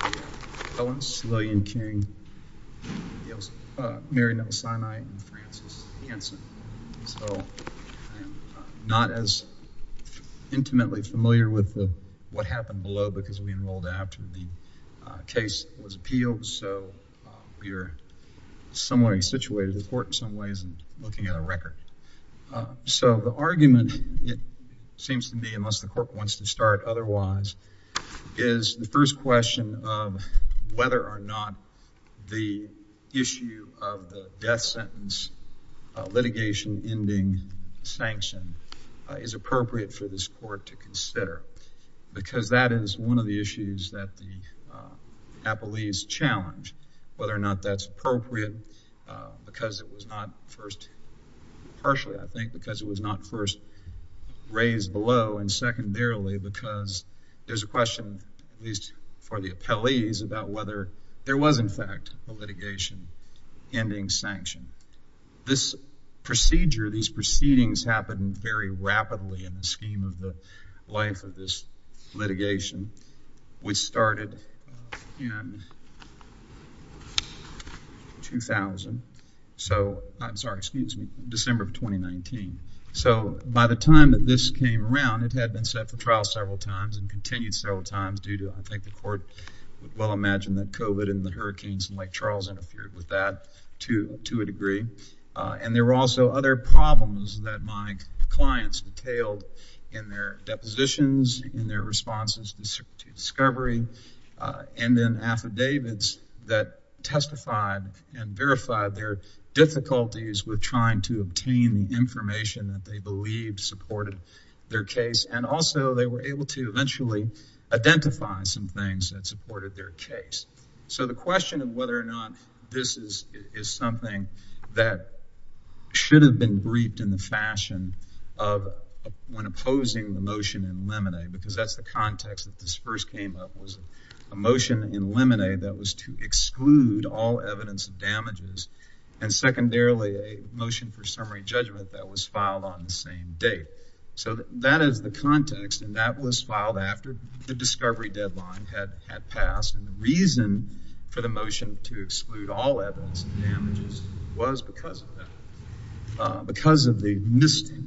I'm not as intimately familiar with what happened below because we enrolled after the case was appealed, so we are similarly situated in court in some ways and looking at a record. So the argument, it seems to me, unless the court wants to start otherwise, is the first question of whether or not the issue of the death sentence litigation ending sanction is appropriate for this court to consider because that is one of the issues that the appellees challenge. Whether or not that's appropriate because it was not first partially, I think, because it was not first raised below and secondarily because there's a question, at least for the appellees, about whether there was in fact a litigation ending sanction. This procedure, these proceedings happened very rapidly in the scheme of the life of this litigation, which started in 2000, so, I'm sorry, excuse me, December of 2019. So, by the time that this came around, it had been set for trial several times and continued several times due to, I think, the court would well imagine that COVID and the hurricanes in Lake Charles interfered with that to a degree. And there were also other problems that my clients detailed in their depositions, in their responses to discovery, and in affidavits that testified and verified their difficulties with trying to obtain the information that they believed supported their case. And also they were able to eventually identify some things that supported their case. So, the question of whether or not this is something that should have been briefed in the fashion of when opposing the motion in limine, because that's the context that this first came up, was a motion in limine that was to exclude all evidence of damages and secondarily a motion for summary judgment that was filed on the same date. So, that is the context and that was filed after the discovery deadline had passed and the reason for the motion to exclude all evidence of damages was because of that.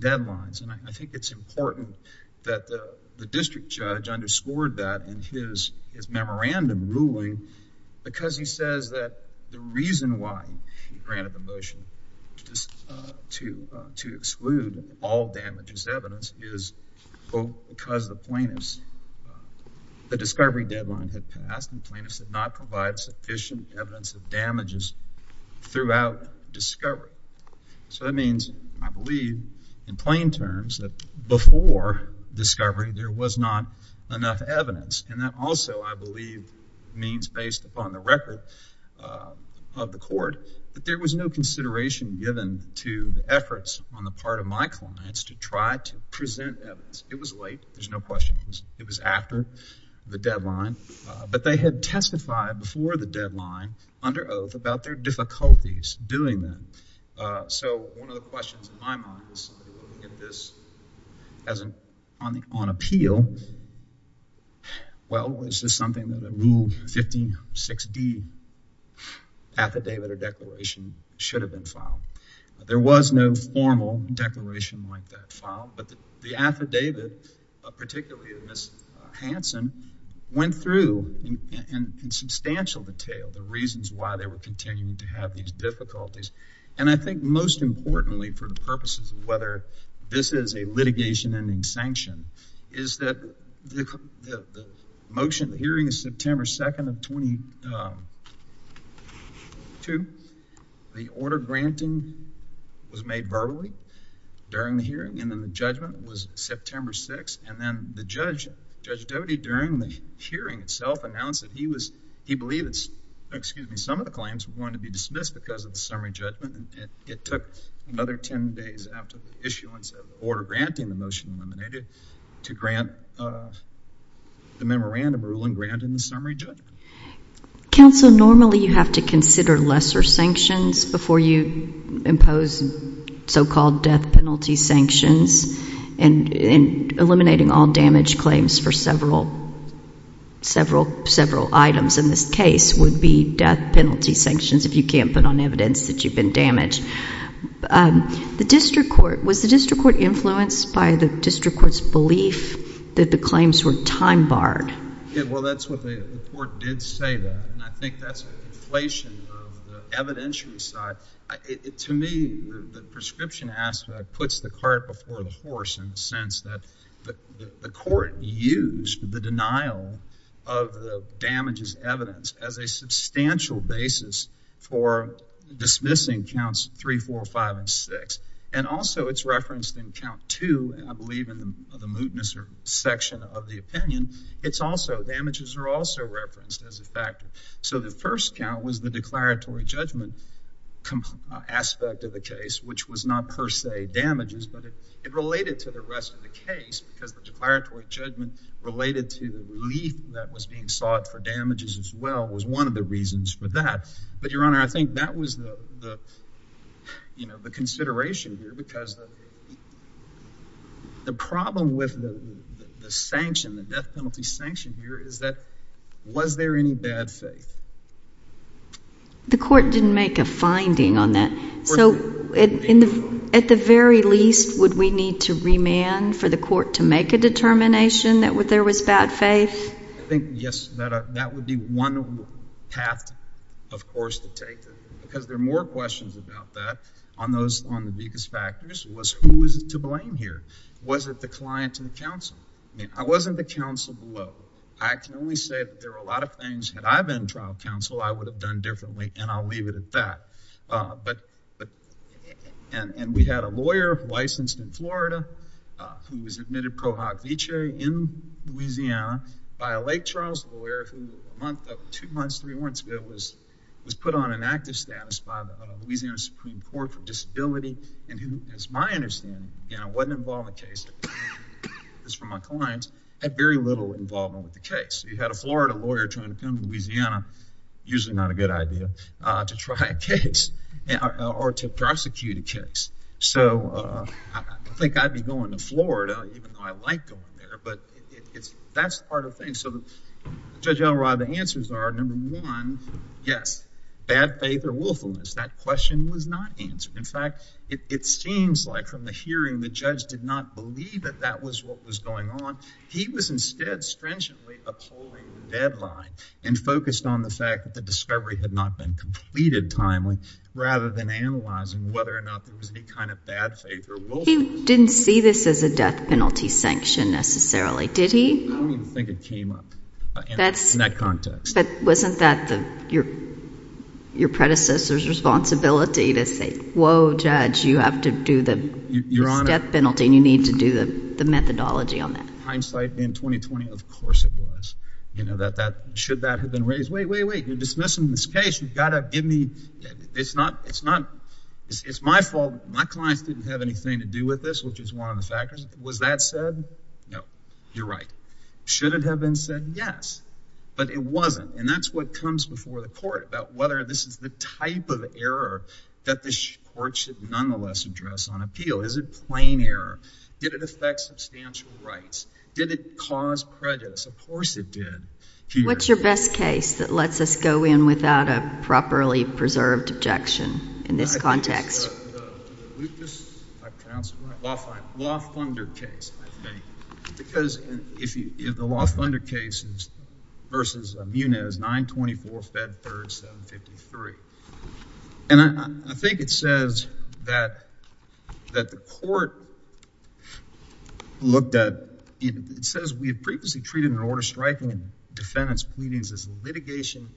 And I think it's important that the district judge underscored that in his memorandum ruling because he says that the reason why he granted the motion to exclude all damages evidence is because the plaintiffs, the discovery deadline had passed and the plaintiffs had not provided sufficient evidence of damages throughout discovery. So, that means I believe in plain terms that before discovery there was not enough evidence and that also I believe means based upon the record of the court that there was no consideration given to the efforts on the part of my clients to try to present evidence. It was late. There's no question. It was after the deadline, but they had testified before the deadline under oath about their difficulties doing that. So, one of the questions in my mind is on appeal, well, is this something that a rule 56D affidavit or declaration should have been filed? There was no formal declaration like that filed, but the affidavit, particularly of Ms. Hansen, went through in substantial detail the reasons why they were continuing to have these difficulties. And I think most importantly for the purposes of whether this is a litigation ending sanction is that the motion, the hearing is September 2nd of 22. The order granting was made verbally during the hearing and then the judgment was September 6th and then the judge, Judge Doty, during the hearing itself announced that he believed some of the claims were going to be dismissed because of the summary judgment. It took another 10 days after the issuance of the order granting the motion eliminated to grant the memorandum ruling granted in the summary judgment. Counsel, normally you have to consider lesser sanctions before you impose so-called death penalty sanctions and eliminating all damage claims for several items in this case would be death penalty sanctions if you can't put on evidence that you've been damaged. The district court, was the district court influenced by the district court's belief that the claims were time barred? Well, that's what the court did say that and I think that's an inflation of the evidentiary side. To me, the prescription aspect puts the cart before the horse in the sense that the court used the denial of the damages evidence as a substantial basis for dismissing counts 3, 4, 5, and 6. And also it's referenced in count 2 and I believe in the mootness or section of the opinion. It's also, damages are also referenced as a factor. So the first count was the declaratory judgment aspect of the case, which was not per se damages, but it related to the rest of the case because the declaratory judgment related to the relief that was being sought for damages as well was one of the reasons for that. But your honor, I think that was the consideration here because the problem with the death penalty sanction here is that was there any bad faith? The court didn't make a finding on that. So at the very least, would we need to remand for the court to make a determination that there was bad faith? I think yes, that would be one path, of course, to take because there are more questions about that on the biggest factors was who is to blame here? Was it the client and the counsel? I mean, I wasn't the counsel below. I can only say that there were a lot of things, had I been trial counsel, I would have done differently and I'll leave it at that. And we had a lawyer licensed in Florida who was admitted pro hoc vitae in Louisiana by a Lake Charles lawyer who a month, two months, three months ago was put on an active status by the Louisiana Supreme Court for disability and who, as my understanding, wasn't involved in the case. This is from my client. I had very little involvement with the case. You had a Florida lawyer trying to come to Louisiana, usually not a good idea, to try a case or to prosecute a case. So I think I'd be going to Florida even though I like going there, but that's part of the thing. So Judge Elroy, the answers are, number one, yes, bad faith or willfulness. That question was not answered. In fact, it seems like from the hearing the judge did not believe that that was what was going on. He was instead stringently upholding the deadline and focused on the fact that the discovery had not been completed timely rather than analyzing whether or not there was any kind of bad faith or willfulness. He didn't see this as a death penalty sanction necessarily, did he? I don't even think it came up in that context. But wasn't that your predecessor's responsibility to say, whoa, judge, you have to do the death penalty and you need to do the methodology on that? Hindsight in 2020, of course it was. Should that have been raised? Wait, wait, wait, you're dismissing this case. You've got to give me – it's my fault. My clients didn't have anything to do with this, which is one of the factors. Was that said? No. You're right. Should it have been said? Yes. But it wasn't. And that's what comes before the court about whether this is the type of error that the court should nonetheless address on appeal. Is it plain error? Did it affect substantial rights? Did it cause prejudice? Of course it did. What's your best case that lets us go in without a properly preserved objection in this context? I think it's the Lucas, if I'm pronouncing it right, LaFunder case, I think. Because if the LaFunder case versus Munez, 924, Fed 3rd, 753. And I think it says that the court looked at – it says we have previously treated an order striking a defendant's pleadings as litigation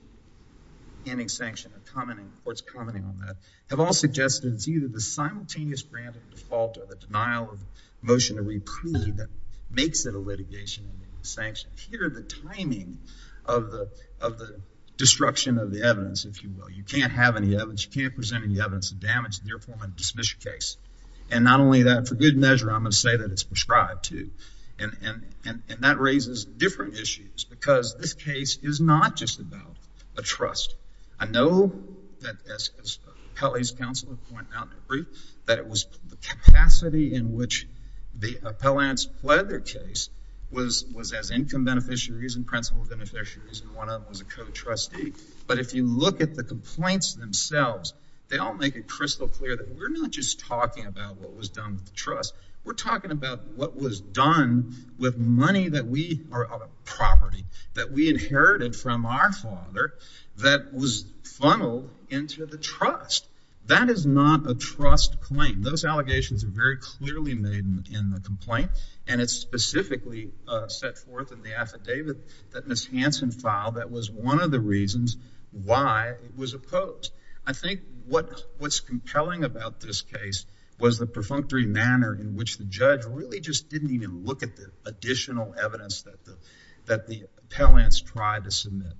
and a sanction. The court's commenting on that. Have all suggested it's either the simultaneous grant of the default or the denial of the motion to reprieve that makes it a litigation and a sanction. Here, the timing of the destruction of the evidence, if you will. You can't have any evidence. You can't present any evidence of damage. Therefore, I'm going to dismiss your case. And not only that, for good measure, I'm going to say that it's prescribed to. And that raises different issues because this case is not just about a trust. I know that as Appellee's Counselor pointed out in her brief, that it was the capacity in which the appellants pled their case was as income beneficiaries and principal beneficiaries. And one of them was a co-trustee. But if you look at the complaints themselves, they all make it crystal clear that we're not just talking about what was done with the trust. We're talking about what was done with money that we inherited from our father that was funneled into the trust. That is not a trust claim. Those allegations are very clearly made in the complaint. And it's specifically set forth in the affidavit that Ms. Hanson filed that was one of the reasons why it was opposed. I think what's compelling about this case was the perfunctory manner in which the judge really just didn't even look at the additional evidence that the appellants tried to submit.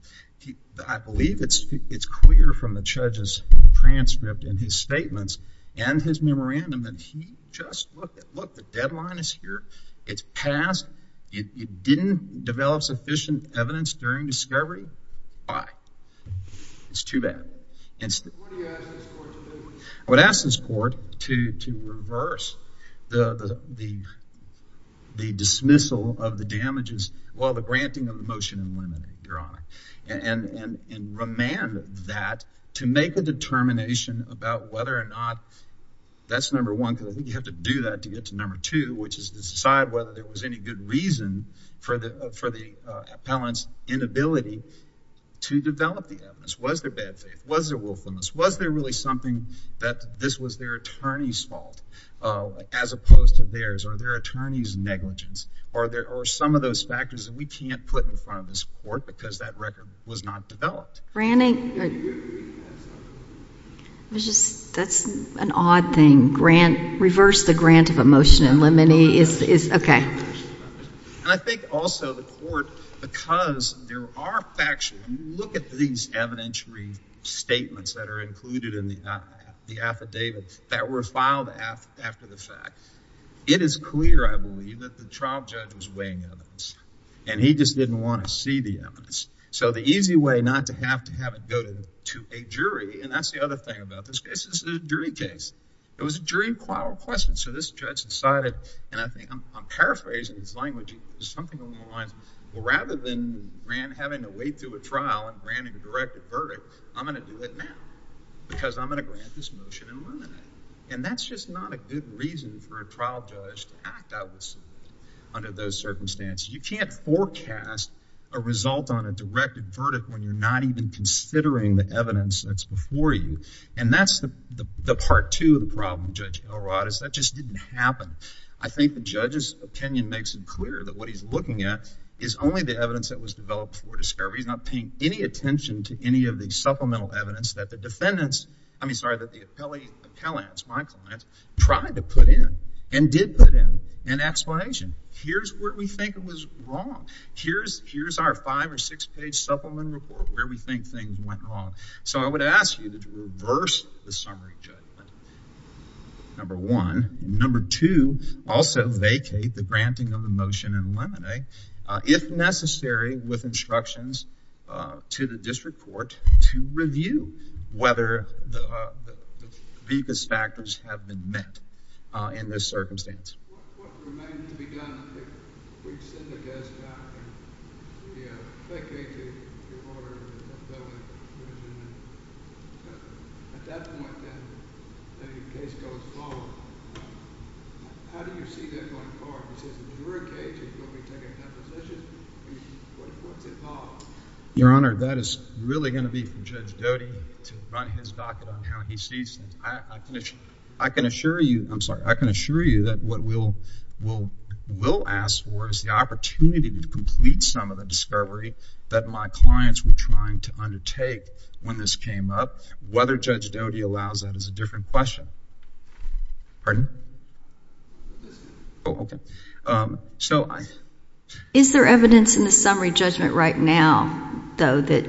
I believe it's clear from the judge's transcript and his statements and his memorandum that he just looked at, look, the deadline is here. It's passed. It didn't develop sufficient evidence during discovery. Why? It's too bad. What do you ask this court to do? I would ask this court to reverse the dismissal of the damages, well, the granting of the motion and limiting, Your Honor. And remand that to make a determination about whether or not that's number one. I think you have to do that to get to number two, which is to decide whether there was any good reason for the appellant's inability to develop the evidence. Was there bad faith? Was there willfulness? Was there really something that this was their attorney's fault as opposed to theirs? Or their attorney's negligence? Or some of those factors that we can't put in front of this court because that record was not developed? Granting? That's an odd thing. Reverse the grant of a motion and limiting is, OK. And I think also the court, because there are factual, look at these evidentiary statements that are included in the affidavit that were filed after the fact. It is clear, I believe, that the trial judge was weighing evidence. And he just didn't want to see the evidence. So the easy way not to have to have it go to a jury, and that's the other thing about this case, this is a jury case. It was a jury trial request. And so this judge decided, and I think I'm paraphrasing his language, something along the lines, well, rather than having to wait through a trial and granting a direct verdict, I'm going to do it now. Because I'm going to grant this motion and remand it. And that's just not a good reason for a trial judge to act out of the suit under those circumstances. You can't forecast a result on a directed verdict when you're not even considering the evidence that's before you. And that's the part two of the problem, Judge Elrod, is that just didn't happen. I think the judge's opinion makes it clear that what he's looking at is only the evidence that was developed for discovery. He's not paying any attention to any of the supplemental evidence that the defendants, I mean, sorry, that the appellants, my clients, tried to put in and did put in an explanation. Here's where we think it was wrong. Here's our five- or six-page supplement report where we think things went wrong. So I would ask you to reverse the summary, Judge. Number one. Number two, also vacate the granting of the motion in limine, if necessary, with instructions to the district court to review whether the vicus factors have been met in this circumstance. Your Honor, that is really going to be for Judge Doty to run his docket on how he sees things. I can assure you, I'm sorry, I can assure you that what we'll ask for is the opportunity to complete some of the discovery that my clients were trying to undertake when this came up. Whether Judge Doty allows that is a different question. Pardon? Oh, okay. Is there evidence in the summary judgment right now, though, that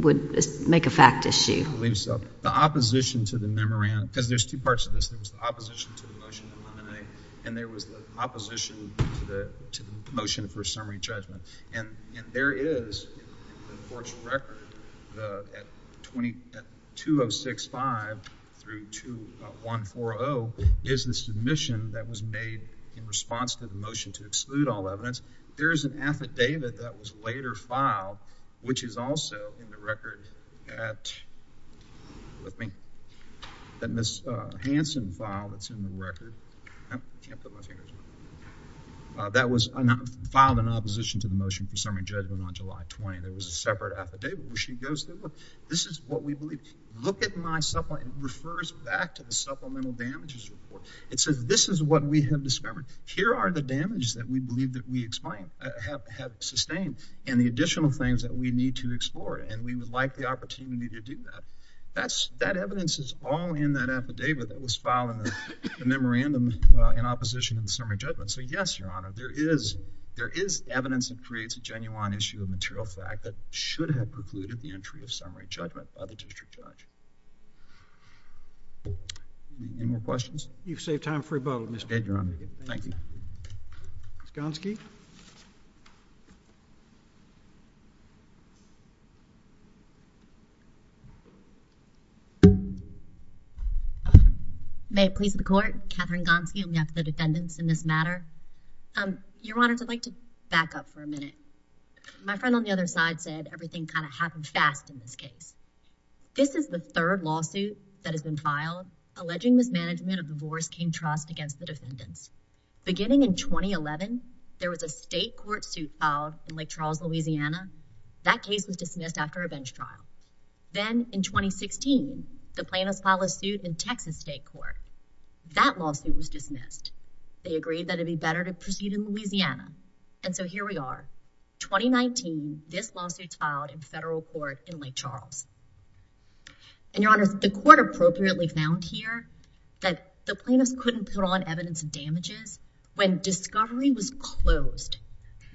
would make a fact issue? I believe so. The opposition to the memorandum, because there's two parts to this. There was the opposition to the motion in limine, and there was the opposition to the motion for summary judgment. And there is, in the court's record, at 2065-140 is the submission that was made in response to the motion to exclude all evidence. There is an affidavit that was later filed, which is also in the record at Ms. Hanson's file that's in the record. I can't put my fingers on it. That was filed in opposition to the motion for summary judgment on July 20. There was a separate affidavit where she goes, look, this is what we believe. Look at my supplement. It refers back to the supplemental damages report. It says this is what we have discovered. Here are the damages that we believe that we have sustained and the additional things that we need to explore, and we would like the opportunity to do that. That evidence is all in that affidavit that was filed in the memorandum in opposition to the summary judgment. So, yes, Your Honor, there is evidence that creates a genuine issue of material fact that should have precluded the entry of summary judgment by the district judge. Any more questions? You've saved time for rebuttal, Mr. Edgeron. Thank you. Ms. Gonski? May it please the Court? Katherine Gonski on behalf of the defendants in this matter. Your Honor, I'd like to back up for a minute. My friend on the other side said everything kind of happened fast in this case. This is the third lawsuit that has been filed alleging mismanagement of the Boris King Trust against the defendants. Beginning in 2011, there was a state court suit filed in Lake Charles, Louisiana. That case was dismissed after a bench trial. Then, in 2016, the plaintiffs filed a suit in Texas state court. That lawsuit was dismissed. They agreed that it would be better to proceed in Louisiana, and so here we are. In 2019, this lawsuit was filed in federal court in Lake Charles. And, Your Honor, the court appropriately found here that the plaintiffs couldn't put on evidence of damages when discovery was closed.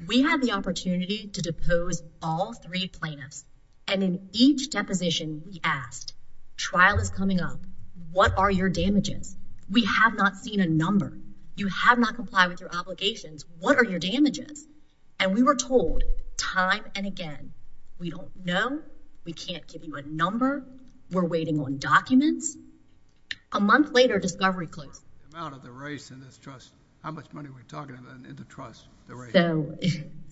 We had the opportunity to depose all three plaintiffs, and in each deposition, we asked, Trial is coming up. What are your damages? We have not seen a number. You have not complied with your obligations. What are your damages? And we were told time and again, we don't know. We can't give you a number. We're waiting on documents. A month later, discovery closed. The amount of the race in this trust, how much money are we talking about in the trust, the race? So,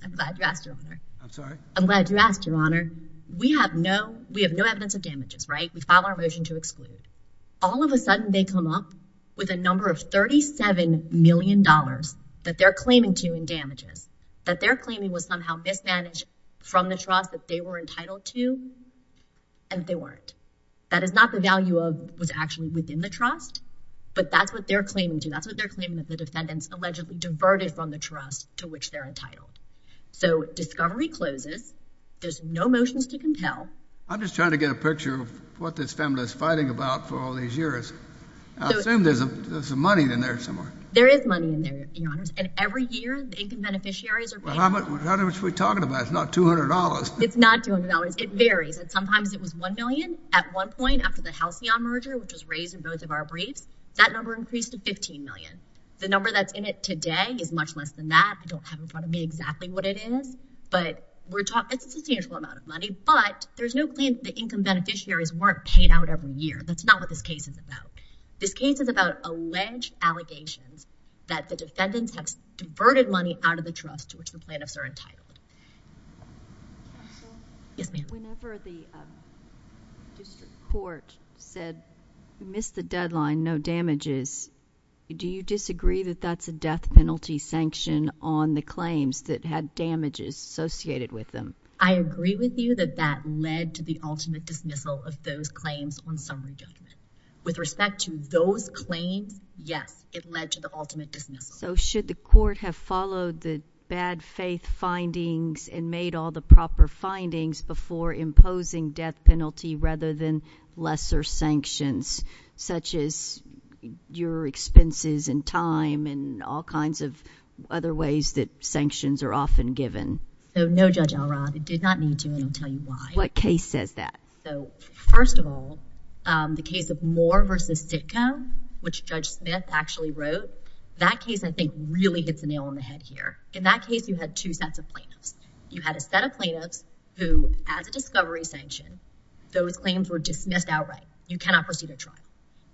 I'm glad you asked, Your Honor. I'm sorry? I'm glad you asked, Your Honor. We have no, we have no evidence of damages, right? We filed our motion to exclude. All of a sudden, they come up with a number of $37 million that they're claiming to in damages, that they're claiming was somehow mismanaged from the trust that they were entitled to, and they weren't. That is not the value of what's actually within the trust, but that's what they're claiming to. That's what they're claiming that the defendants allegedly diverted from the trust to which they're entitled. So, discovery closes. There's no motions to compel. I'm just trying to get a picture of what this family is fighting about for all these years. I assume there's some money in there somewhere. There is money in there, Your Honor. And every year, the income beneficiaries are paying. How much are we talking about? It's not $200. It's not $200. It varies. And sometimes it was $1 million. At one point, after the Halcyon merger, which was raised in both of our briefs, that number increased to $15 million. The number that's in it today is much less than that. I don't have in front of me exactly what it is, but we're talking, it's a substantial amount of money. But there's no claim that the income beneficiaries weren't paid out every year. That's not what this case is about. This case is about alleged allegations that the defendants have diverted money out of the trust to which the plaintiffs are entitled. Counsel? Yes, ma'am. Whenever the district court said you missed the deadline, no damages, do you disagree that that's a death penalty sanction on the claims that had damages associated with them? I agree with you that that led to the ultimate dismissal of those claims on summary judgment. With respect to those claims, yes, it led to the ultimate dismissal. So should the court have followed the bad faith findings and made all the proper findings before imposing death penalty rather than lesser sanctions, such as your expenses and time and all kinds of other ways that sanctions are often given? No, Judge Elrod. It did not need to, and I'll tell you why. What case says that? First of all, the case of Moore v. Sitka, which Judge Smith actually wrote, that case, I think, really hits the nail on the head here. In that case, you had two sets of plaintiffs. You had a set of plaintiffs who, as a discovery sanction, those claims were dismissed outright. You cannot proceed a trial.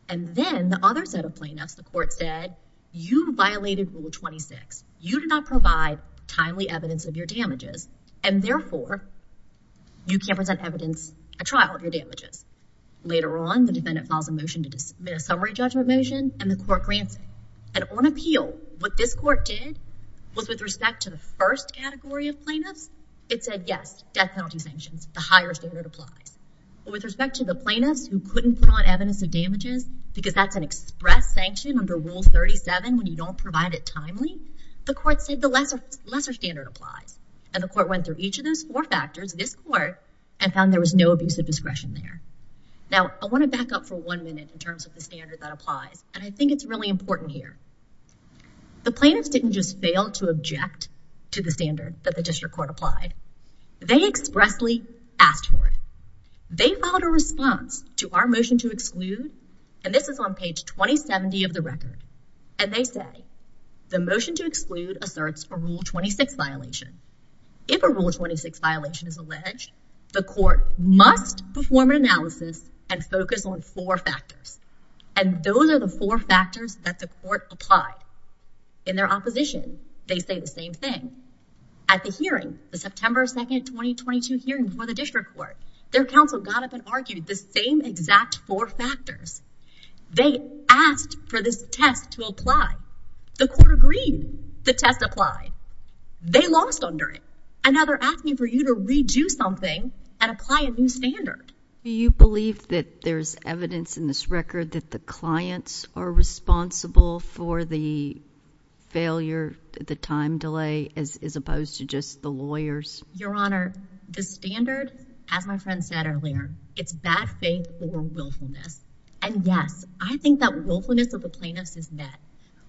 And then the other set of plaintiffs, the court said, you violated Rule 26. You did not provide timely evidence of your damages, and therefore you can't present evidence at trial of your damages. Later on, the defendant files a motion to dismiss a summary judgment motion, and the court grants it. And on appeal, what this court did was with respect to the first category of plaintiffs, it said, yes, death penalty sanctions, the higher standard applies. But with respect to the plaintiffs who couldn't put on evidence of damages, because that's an express sanction under Rule 37 when you don't provide it timely, the court said the lesser standard applies. And the court went through each of those four factors, this court, and found there was no abuse of discretion there. Now, I want to back up for one minute in terms of the standard that applies, and I think it's really important here. The plaintiffs didn't just fail to object to the standard that the district court applied. They expressly asked for it. They filed a response to our motion to exclude, and this is on page 2070 of the record, and they say the motion to exclude asserts a Rule 26 violation. If a Rule 26 violation is alleged, the court must perform an analysis and focus on four factors, and those are the four factors that the court applied. In their opposition, they say the same thing. At the hearing, the September 2, 2022 hearing for the district court, their counsel got up and argued the same exact four factors. They asked for this test to apply. The court agreed the test applied. They lost under it, and now they're asking for you to redo something and apply a new standard. Do you believe that there's evidence in this record that the clients are responsible for the failure, the time delay, as opposed to just the lawyers? Your Honor, the standard, as my friend said earlier, it's bad faith or willfulness, and yes, I think that willfulness of the plaintiffs is met.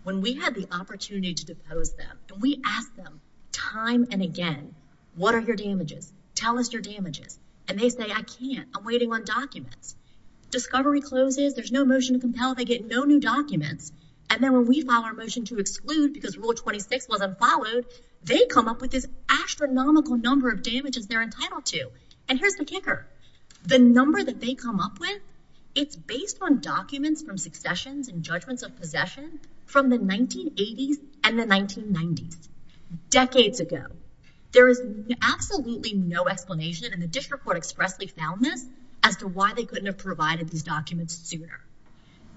When we had the opportunity to depose them, we asked them time and again, what are your damages? Tell us your damages. And they say, I can't. I'm waiting on documents. Discovery closes. There's no motion to compel. They get no new documents. And then when we file our motion to exclude because Rule 26 wasn't followed, they come up with this astronomical number of damages they're entitled to. And here's the kicker. The number that they come up with, it's based on documents from successions and judgments of possession from the 1980s and the 1990s, decades ago. There is absolutely no explanation. And the district court expressly found this as to why they couldn't have provided these documents sooner.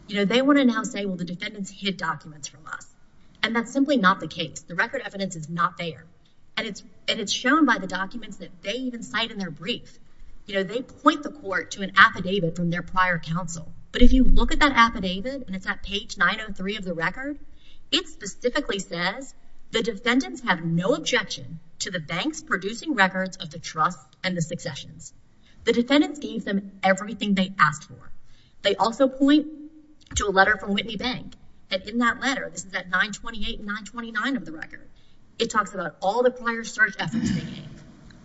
You know, they want to now say, well, the defendants hid documents from us, and that's simply not the case. The record evidence is not there. And it's shown by the documents that they even cite in their brief. You know, they point the court to an affidavit from their prior counsel. But if you look at that affidavit, and it's at page 903 of the record, it specifically says the defendants have no objection to the banks producing records of the trust and the successions. The defendants gave them everything they asked for. They also point to a letter from Whitney Bank. And in that letter, this is at 928 and 929 of the record, it talks about all the prior search efforts they made,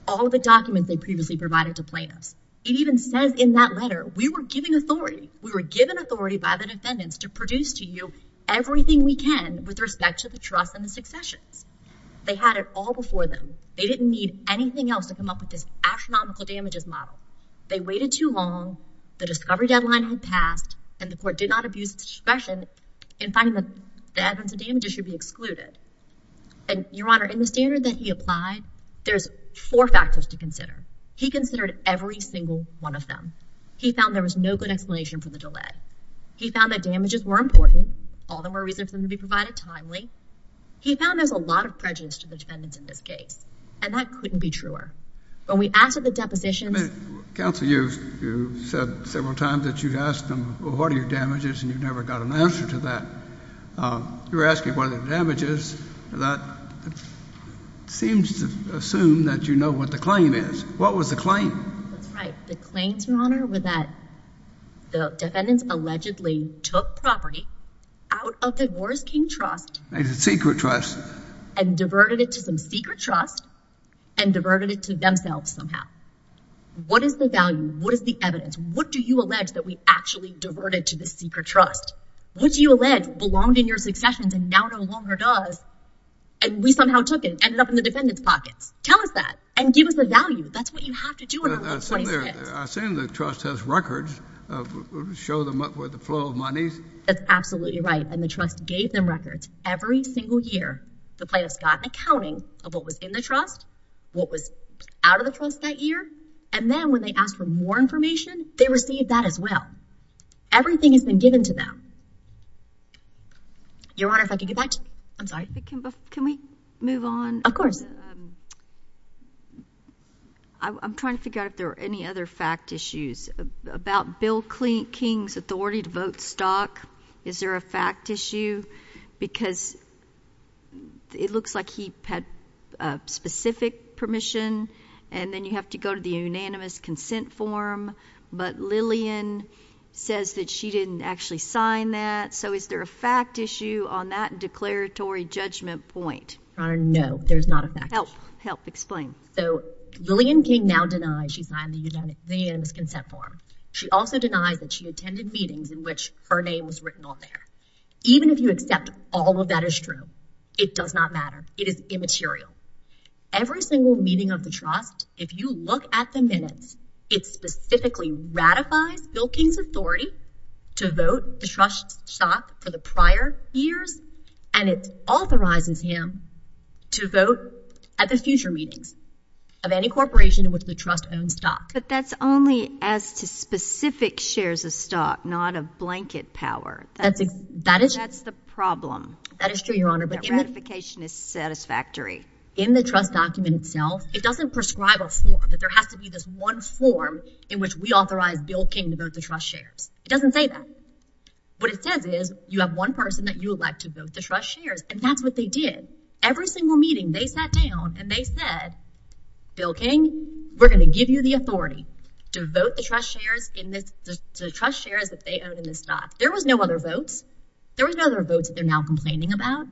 all the documents they previously provided to plaintiffs. It even says in that letter, we were given authority. We were given authority by the defendants to produce to you everything we can with respect to the trust and the successions. They had it all before them. They didn't need anything else to come up with this astronomical damages model. They waited too long. The discovery deadline had passed. And the court did not abuse its discretion in finding that the evidence of damages should be excluded. And, Your Honor, in the standard that he applied, there's four factors to consider. He considered every single one of them. He found there was no good explanation for the delay. He found that damages were important. All there were reasons for them to be provided timely. He found there's a lot of prejudice to the defendants in this case. And that couldn't be truer. When we asked for the depositions. Counsel, you've said several times that you've asked them, well, what are your damages, and you've never got an answer to that. You're asking what are the damages. That seems to assume that you know what the claim is. What was the claim? That's right. The claims, Your Honor, were that the defendants allegedly took property out of the Wars King Trust. It's a secret trust. And diverted it to some secret trust and diverted it to themselves somehow. What is the value? What is the evidence? What do you allege that we actually diverted to the secret trust? What do you allege belonged in your successions and now no longer does? And we somehow took it and ended up in the defendant's pockets. Tell us that and give us the value. That's what you have to do. I've seen the trust has records. Show them up with the flow of monies. That's absolutely right. And the trust gave them records every single year. The plaintiffs got an accounting of what was in the trust, what was out of the trust that year, and then when they asked for more information, they received that as well. Everything has been given to them. Your Honor, if I could get back to you. I'm sorry. Can we move on? Of course. I'm trying to figure out if there are any other fact issues. About Bill King's authority to vote stock, is there a fact issue? Because it looks like he had specific permission, and then you have to go to the unanimous consent form. But Lillian says that she didn't actually sign that. So is there a fact issue on that declaratory judgment point? Your Honor, no, there's not a fact issue. Help. Help. Explain. So Lillian King now denies she signed the unanimous consent form. She also denies that she attended meetings in which her name was written on there. Even if you accept all of that is true, it does not matter. It is immaterial. Every single meeting of the trust, if you look at the minutes, it specifically ratifies Bill King's authority to vote the trust stock for the prior years, and it authorizes him to vote at the future meetings of any corporation in which the trust owns stock. But that's only as to specific shares of stock, not of blanket power. That's the problem. That is true, Your Honor. That ratification is satisfactory. In the trust document itself, it doesn't prescribe a form, that there has to be this one form in which we authorize Bill King to vote the trust shares. It doesn't say that. What it says is you have one person that you elect to vote the trust shares, and that's what they did. Every single meeting, they sat down and they said, Bill King, we're going to give you the authority to vote the trust shares that they own in the stock. There was no other votes. There was no other votes that they're now complaining about.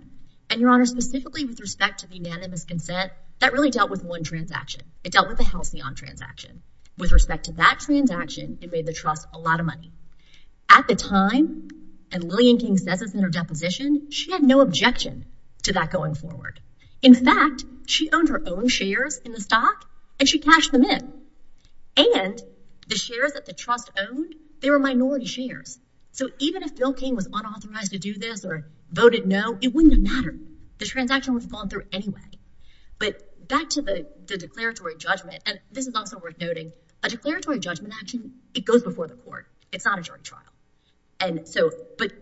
And, Your Honor, specifically with respect to the unanimous consent, that really dealt with one transaction. It dealt with the Halcyon transaction. With respect to that transaction, it made the trust a lot of money. At the time, and Lillian King says this in her deposition, she had no objection to that going forward. In fact, she owned her own shares in the stock, and she cashed them in. And the shares that the trust owned, they were minority shares. So even if Bill King was unauthorized to do this or voted no, it wouldn't have mattered. The transaction would have fallen through anyway. But back to the declaratory judgment, and this is also worth noting, a declaratory judgment action, it goes before the court. It's not a jury trial. But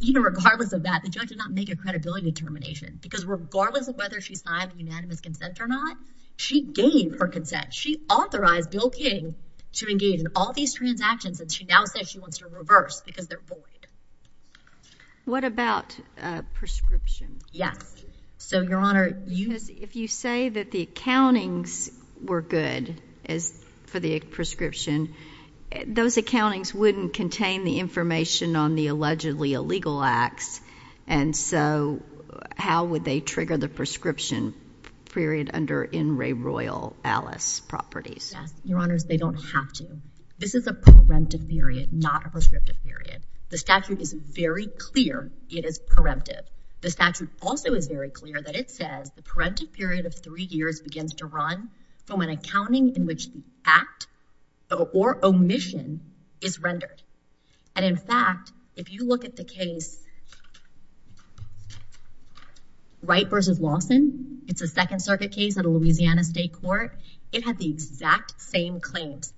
even regardless of that, the judge did not make a credibility determination because regardless of whether she signed the unanimous consent or not, she gave her consent. She authorized Bill King to engage in all these transactions, and she now says she wants to reverse because they're void. What about prescriptions? Yes. So, Your Honor, if you say that the accountings were good for the prescription, those accountings wouldn't contain the information on the allegedly illegal acts, and so how would they trigger the prescription period under In Re Royal Alice Properties? Yes. Your Honors, they don't have to. This is a preemptive period, not a prescriptive period. The statute is very clear it is preemptive. The statute also is very clear that it says the preemptive period of three years begins to run from an accounting in which the act or omission is rendered. And, in fact, if you look at the case Wright v. Lawson, it's a Second Circuit case at a Louisiana state court. It had the exact same claims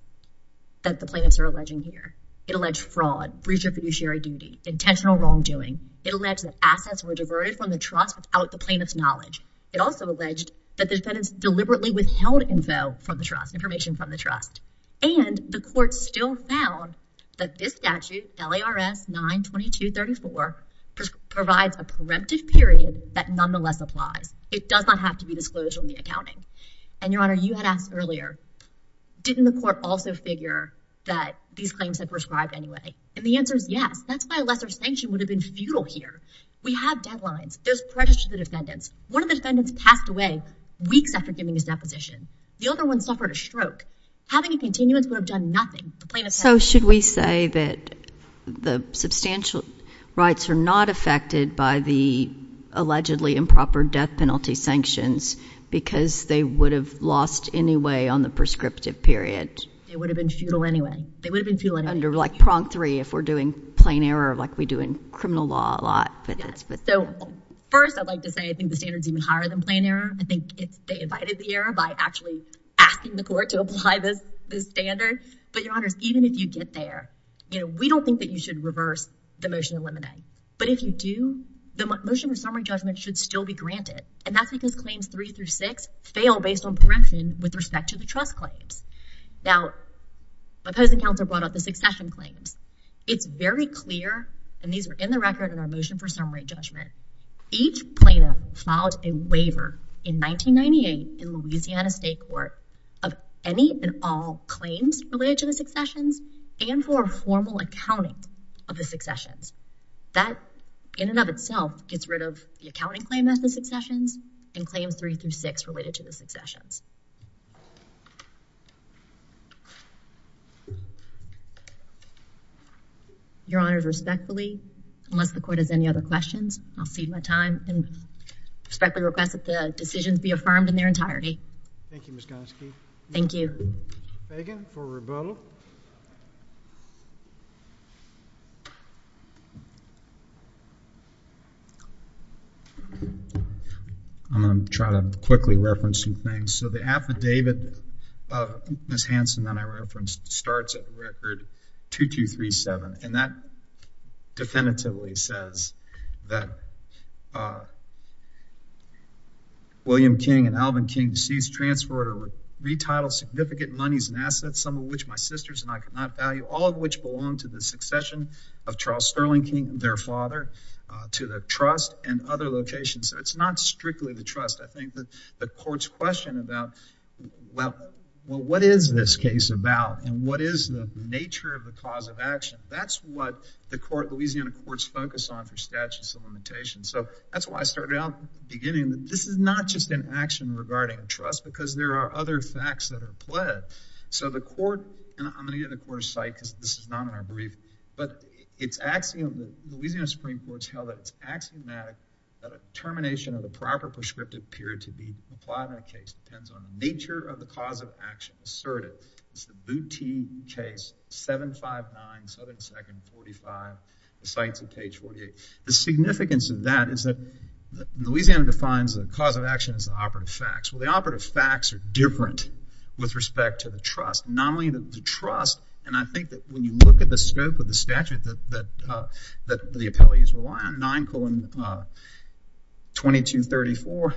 that the plaintiffs are alleging here. It alleged fraud, breach of fiduciary duty, intentional wrongdoing. It alleged that assets were diverted from the trust without the plaintiff's knowledge. It also alleged that the defendants deliberately withheld info from the trust, information from the trust. And the court still found that this statute, LARS 92234, provides a preemptive period that nonetheless applies. It does not have to be disclosed on the accounting. And, Your Honor, you had asked earlier, didn't the court also figure that these claims had prescribed anyway? And the answer is yes. That's why a lesser sanction would have been futile here. We have deadlines. There's prejudice to the defendants. One of the defendants passed away weeks after giving his deposition. The other one suffered a stroke. Having a continuance would have done nothing. So should we say that the substantial rights are not affected by the allegedly improper death penalty sanctions because they would have lost anyway on the prescriptive period? They would have been futile anyway. They would have been futile anyway. Under like prong three if we're doing plain error like we do in criminal law a lot. First, I'd like to say I think the standard is even higher than plain error. I think they invited the error by actually asking the court to apply this standard. But, Your Honors, even if you get there, we don't think that you should reverse the motion in limine. But if you do, the motion for summary judgment should still be granted. And that's because claims three through six fail based on correction with respect to the trust claims. Now, opposing counsel brought up the succession claims. It's very clear, and these are in the record in our motion for summary judgment, each plaintiff filed a waiver in 1998 in Louisiana State Court of any and all claims related to the successions and for formal accounting of the successions. That in and of itself gets rid of the accounting claim as the successions and claims three through six related to the successions. Your Honors, respectfully, unless the court has any other questions, I'll cede my time and respectfully request that the decisions be affirmed in their entirety. Thank you, Ms. Gonski. Thank you. Mr. Fagan for rebuttal. I'm going to try to quickly reference some things. So the affidavit of Ms. Hanson that I referenced starts at the record 2237. And that definitively says that William King and Alvin King seized, transferred, or retitled significant monies and assets, some of which my sisters and I could not value, all of which belong to the succession of Charles Sterling King, their father, to the trust and other locations. So it's not strictly the trust. I think that the court's question about, well, what is this case about? And what is the nature of the cause of action? That's what the Louisiana courts focus on for statutes of limitations. So that's why I started out beginning that this is not just an action regarding trust because there are other facts that are pled. So the court, and I'm going to give the court a cite because this is not in our briefing, but it's axiomatic, the Louisiana Supreme Court's held that it's axiomatic that a termination of the proper prescriptive period to be applied in a case depends on the nature of the cause of action asserted. It's the Boutte case, 759, Southern 2nd, 45. The cite's on page 48. The significance of that is that Louisiana defines the cause of action as operative facts. Well, the operative facts are different with respect to the trust. Not only the trust, and I think that when you look at the scope of the statute that the appellees rely on, 9, 2234,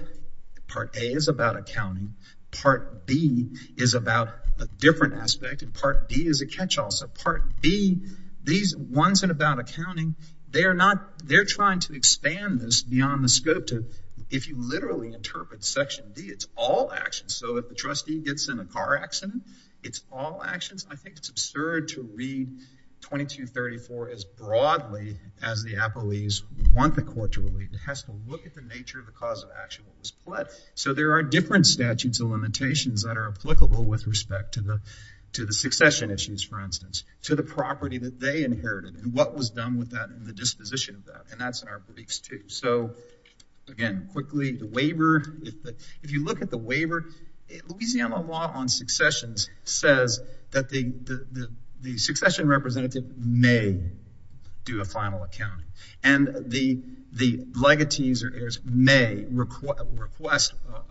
Part A is about accounting. Part B is about a different aspect, and Part D is a catch-all. So Part B, these ones that are about accounting, they're trying to expand this beyond the scope to if you literally interpret Section D, it's all actions. So if the trustee gets in a car accident, it's all actions. I think it's absurd to read 2234 as broadly as the appellees want the court to read. It has to look at the nature of the cause of action. So there are different statutes of limitations that are applicable with respect to the succession issues, for instance, to the property that they inherited and what was done with that and the disposition of that, and that's in our briefs too. So, again, quickly, the waiver. If you look at the waiver, Louisiana law on successions says that the succession representative may do a final accounting, and the legatees or heirs may request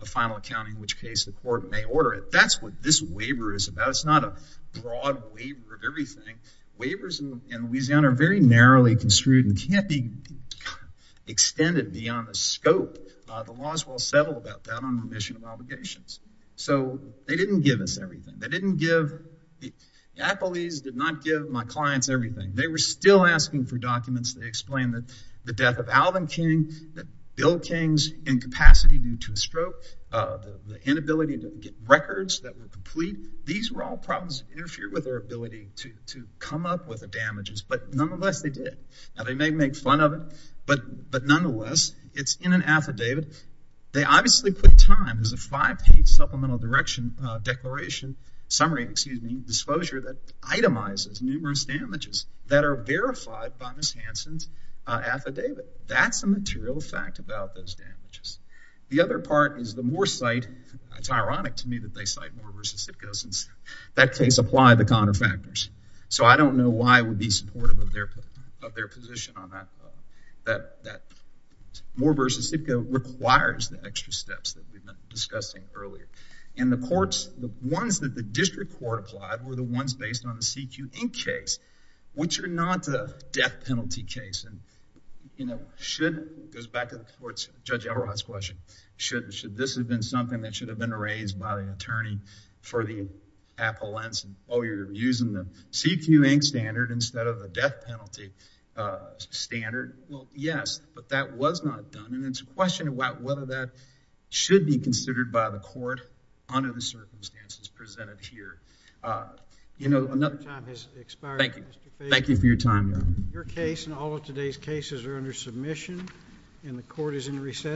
a final accounting, in which case the court may order it. That's what this waiver is about. It's not a broad waiver of everything. Waivers in Louisiana are very narrowly construed and can't be extended beyond the scope. The laws will settle about that on remission of obligations. So they didn't give us everything. They didn't give the appellees, did not give my clients everything. They were still asking for documents. They explained that the death of Alvin King, that Bill King's incapacity due to a stroke, the inability to get records that were complete, these were all problems that interfered with their ability to come up with the damages, but nonetheless they did. Now, they may make fun of it, but nonetheless, it's in an affidavit. They obviously put time. There's a five-page supplemental declaration, summary, excuse me, disclosure that itemizes numerous damages that are verified by Ms. Hansen's affidavit. That's a material fact about those damages. The other part is the more cite, it's ironic to me that they cite more versus Sipkos, in that case apply the Conner factors. So I don't know why I would be supportive of their position on that. That more versus Sipko requires the extra steps that we've been discussing earlier. And the courts, the ones that the district court applied were the ones based on the CQ Inc. case, which are not a death penalty case. And, you know, should, it goes back to the court's, Judge Elrod's question, should this have been something that should have been raised by the attorney for the appellants while you're using the CQ Inc. standard instead of the death penalty standard? Well, yes, but that was not done. And it's a question about whether that should be considered by the court under the circumstances presented here. You know, another time has expired. Thank you. Thank you for your time. Your case and all of today's cases are under submission and the court is in recess.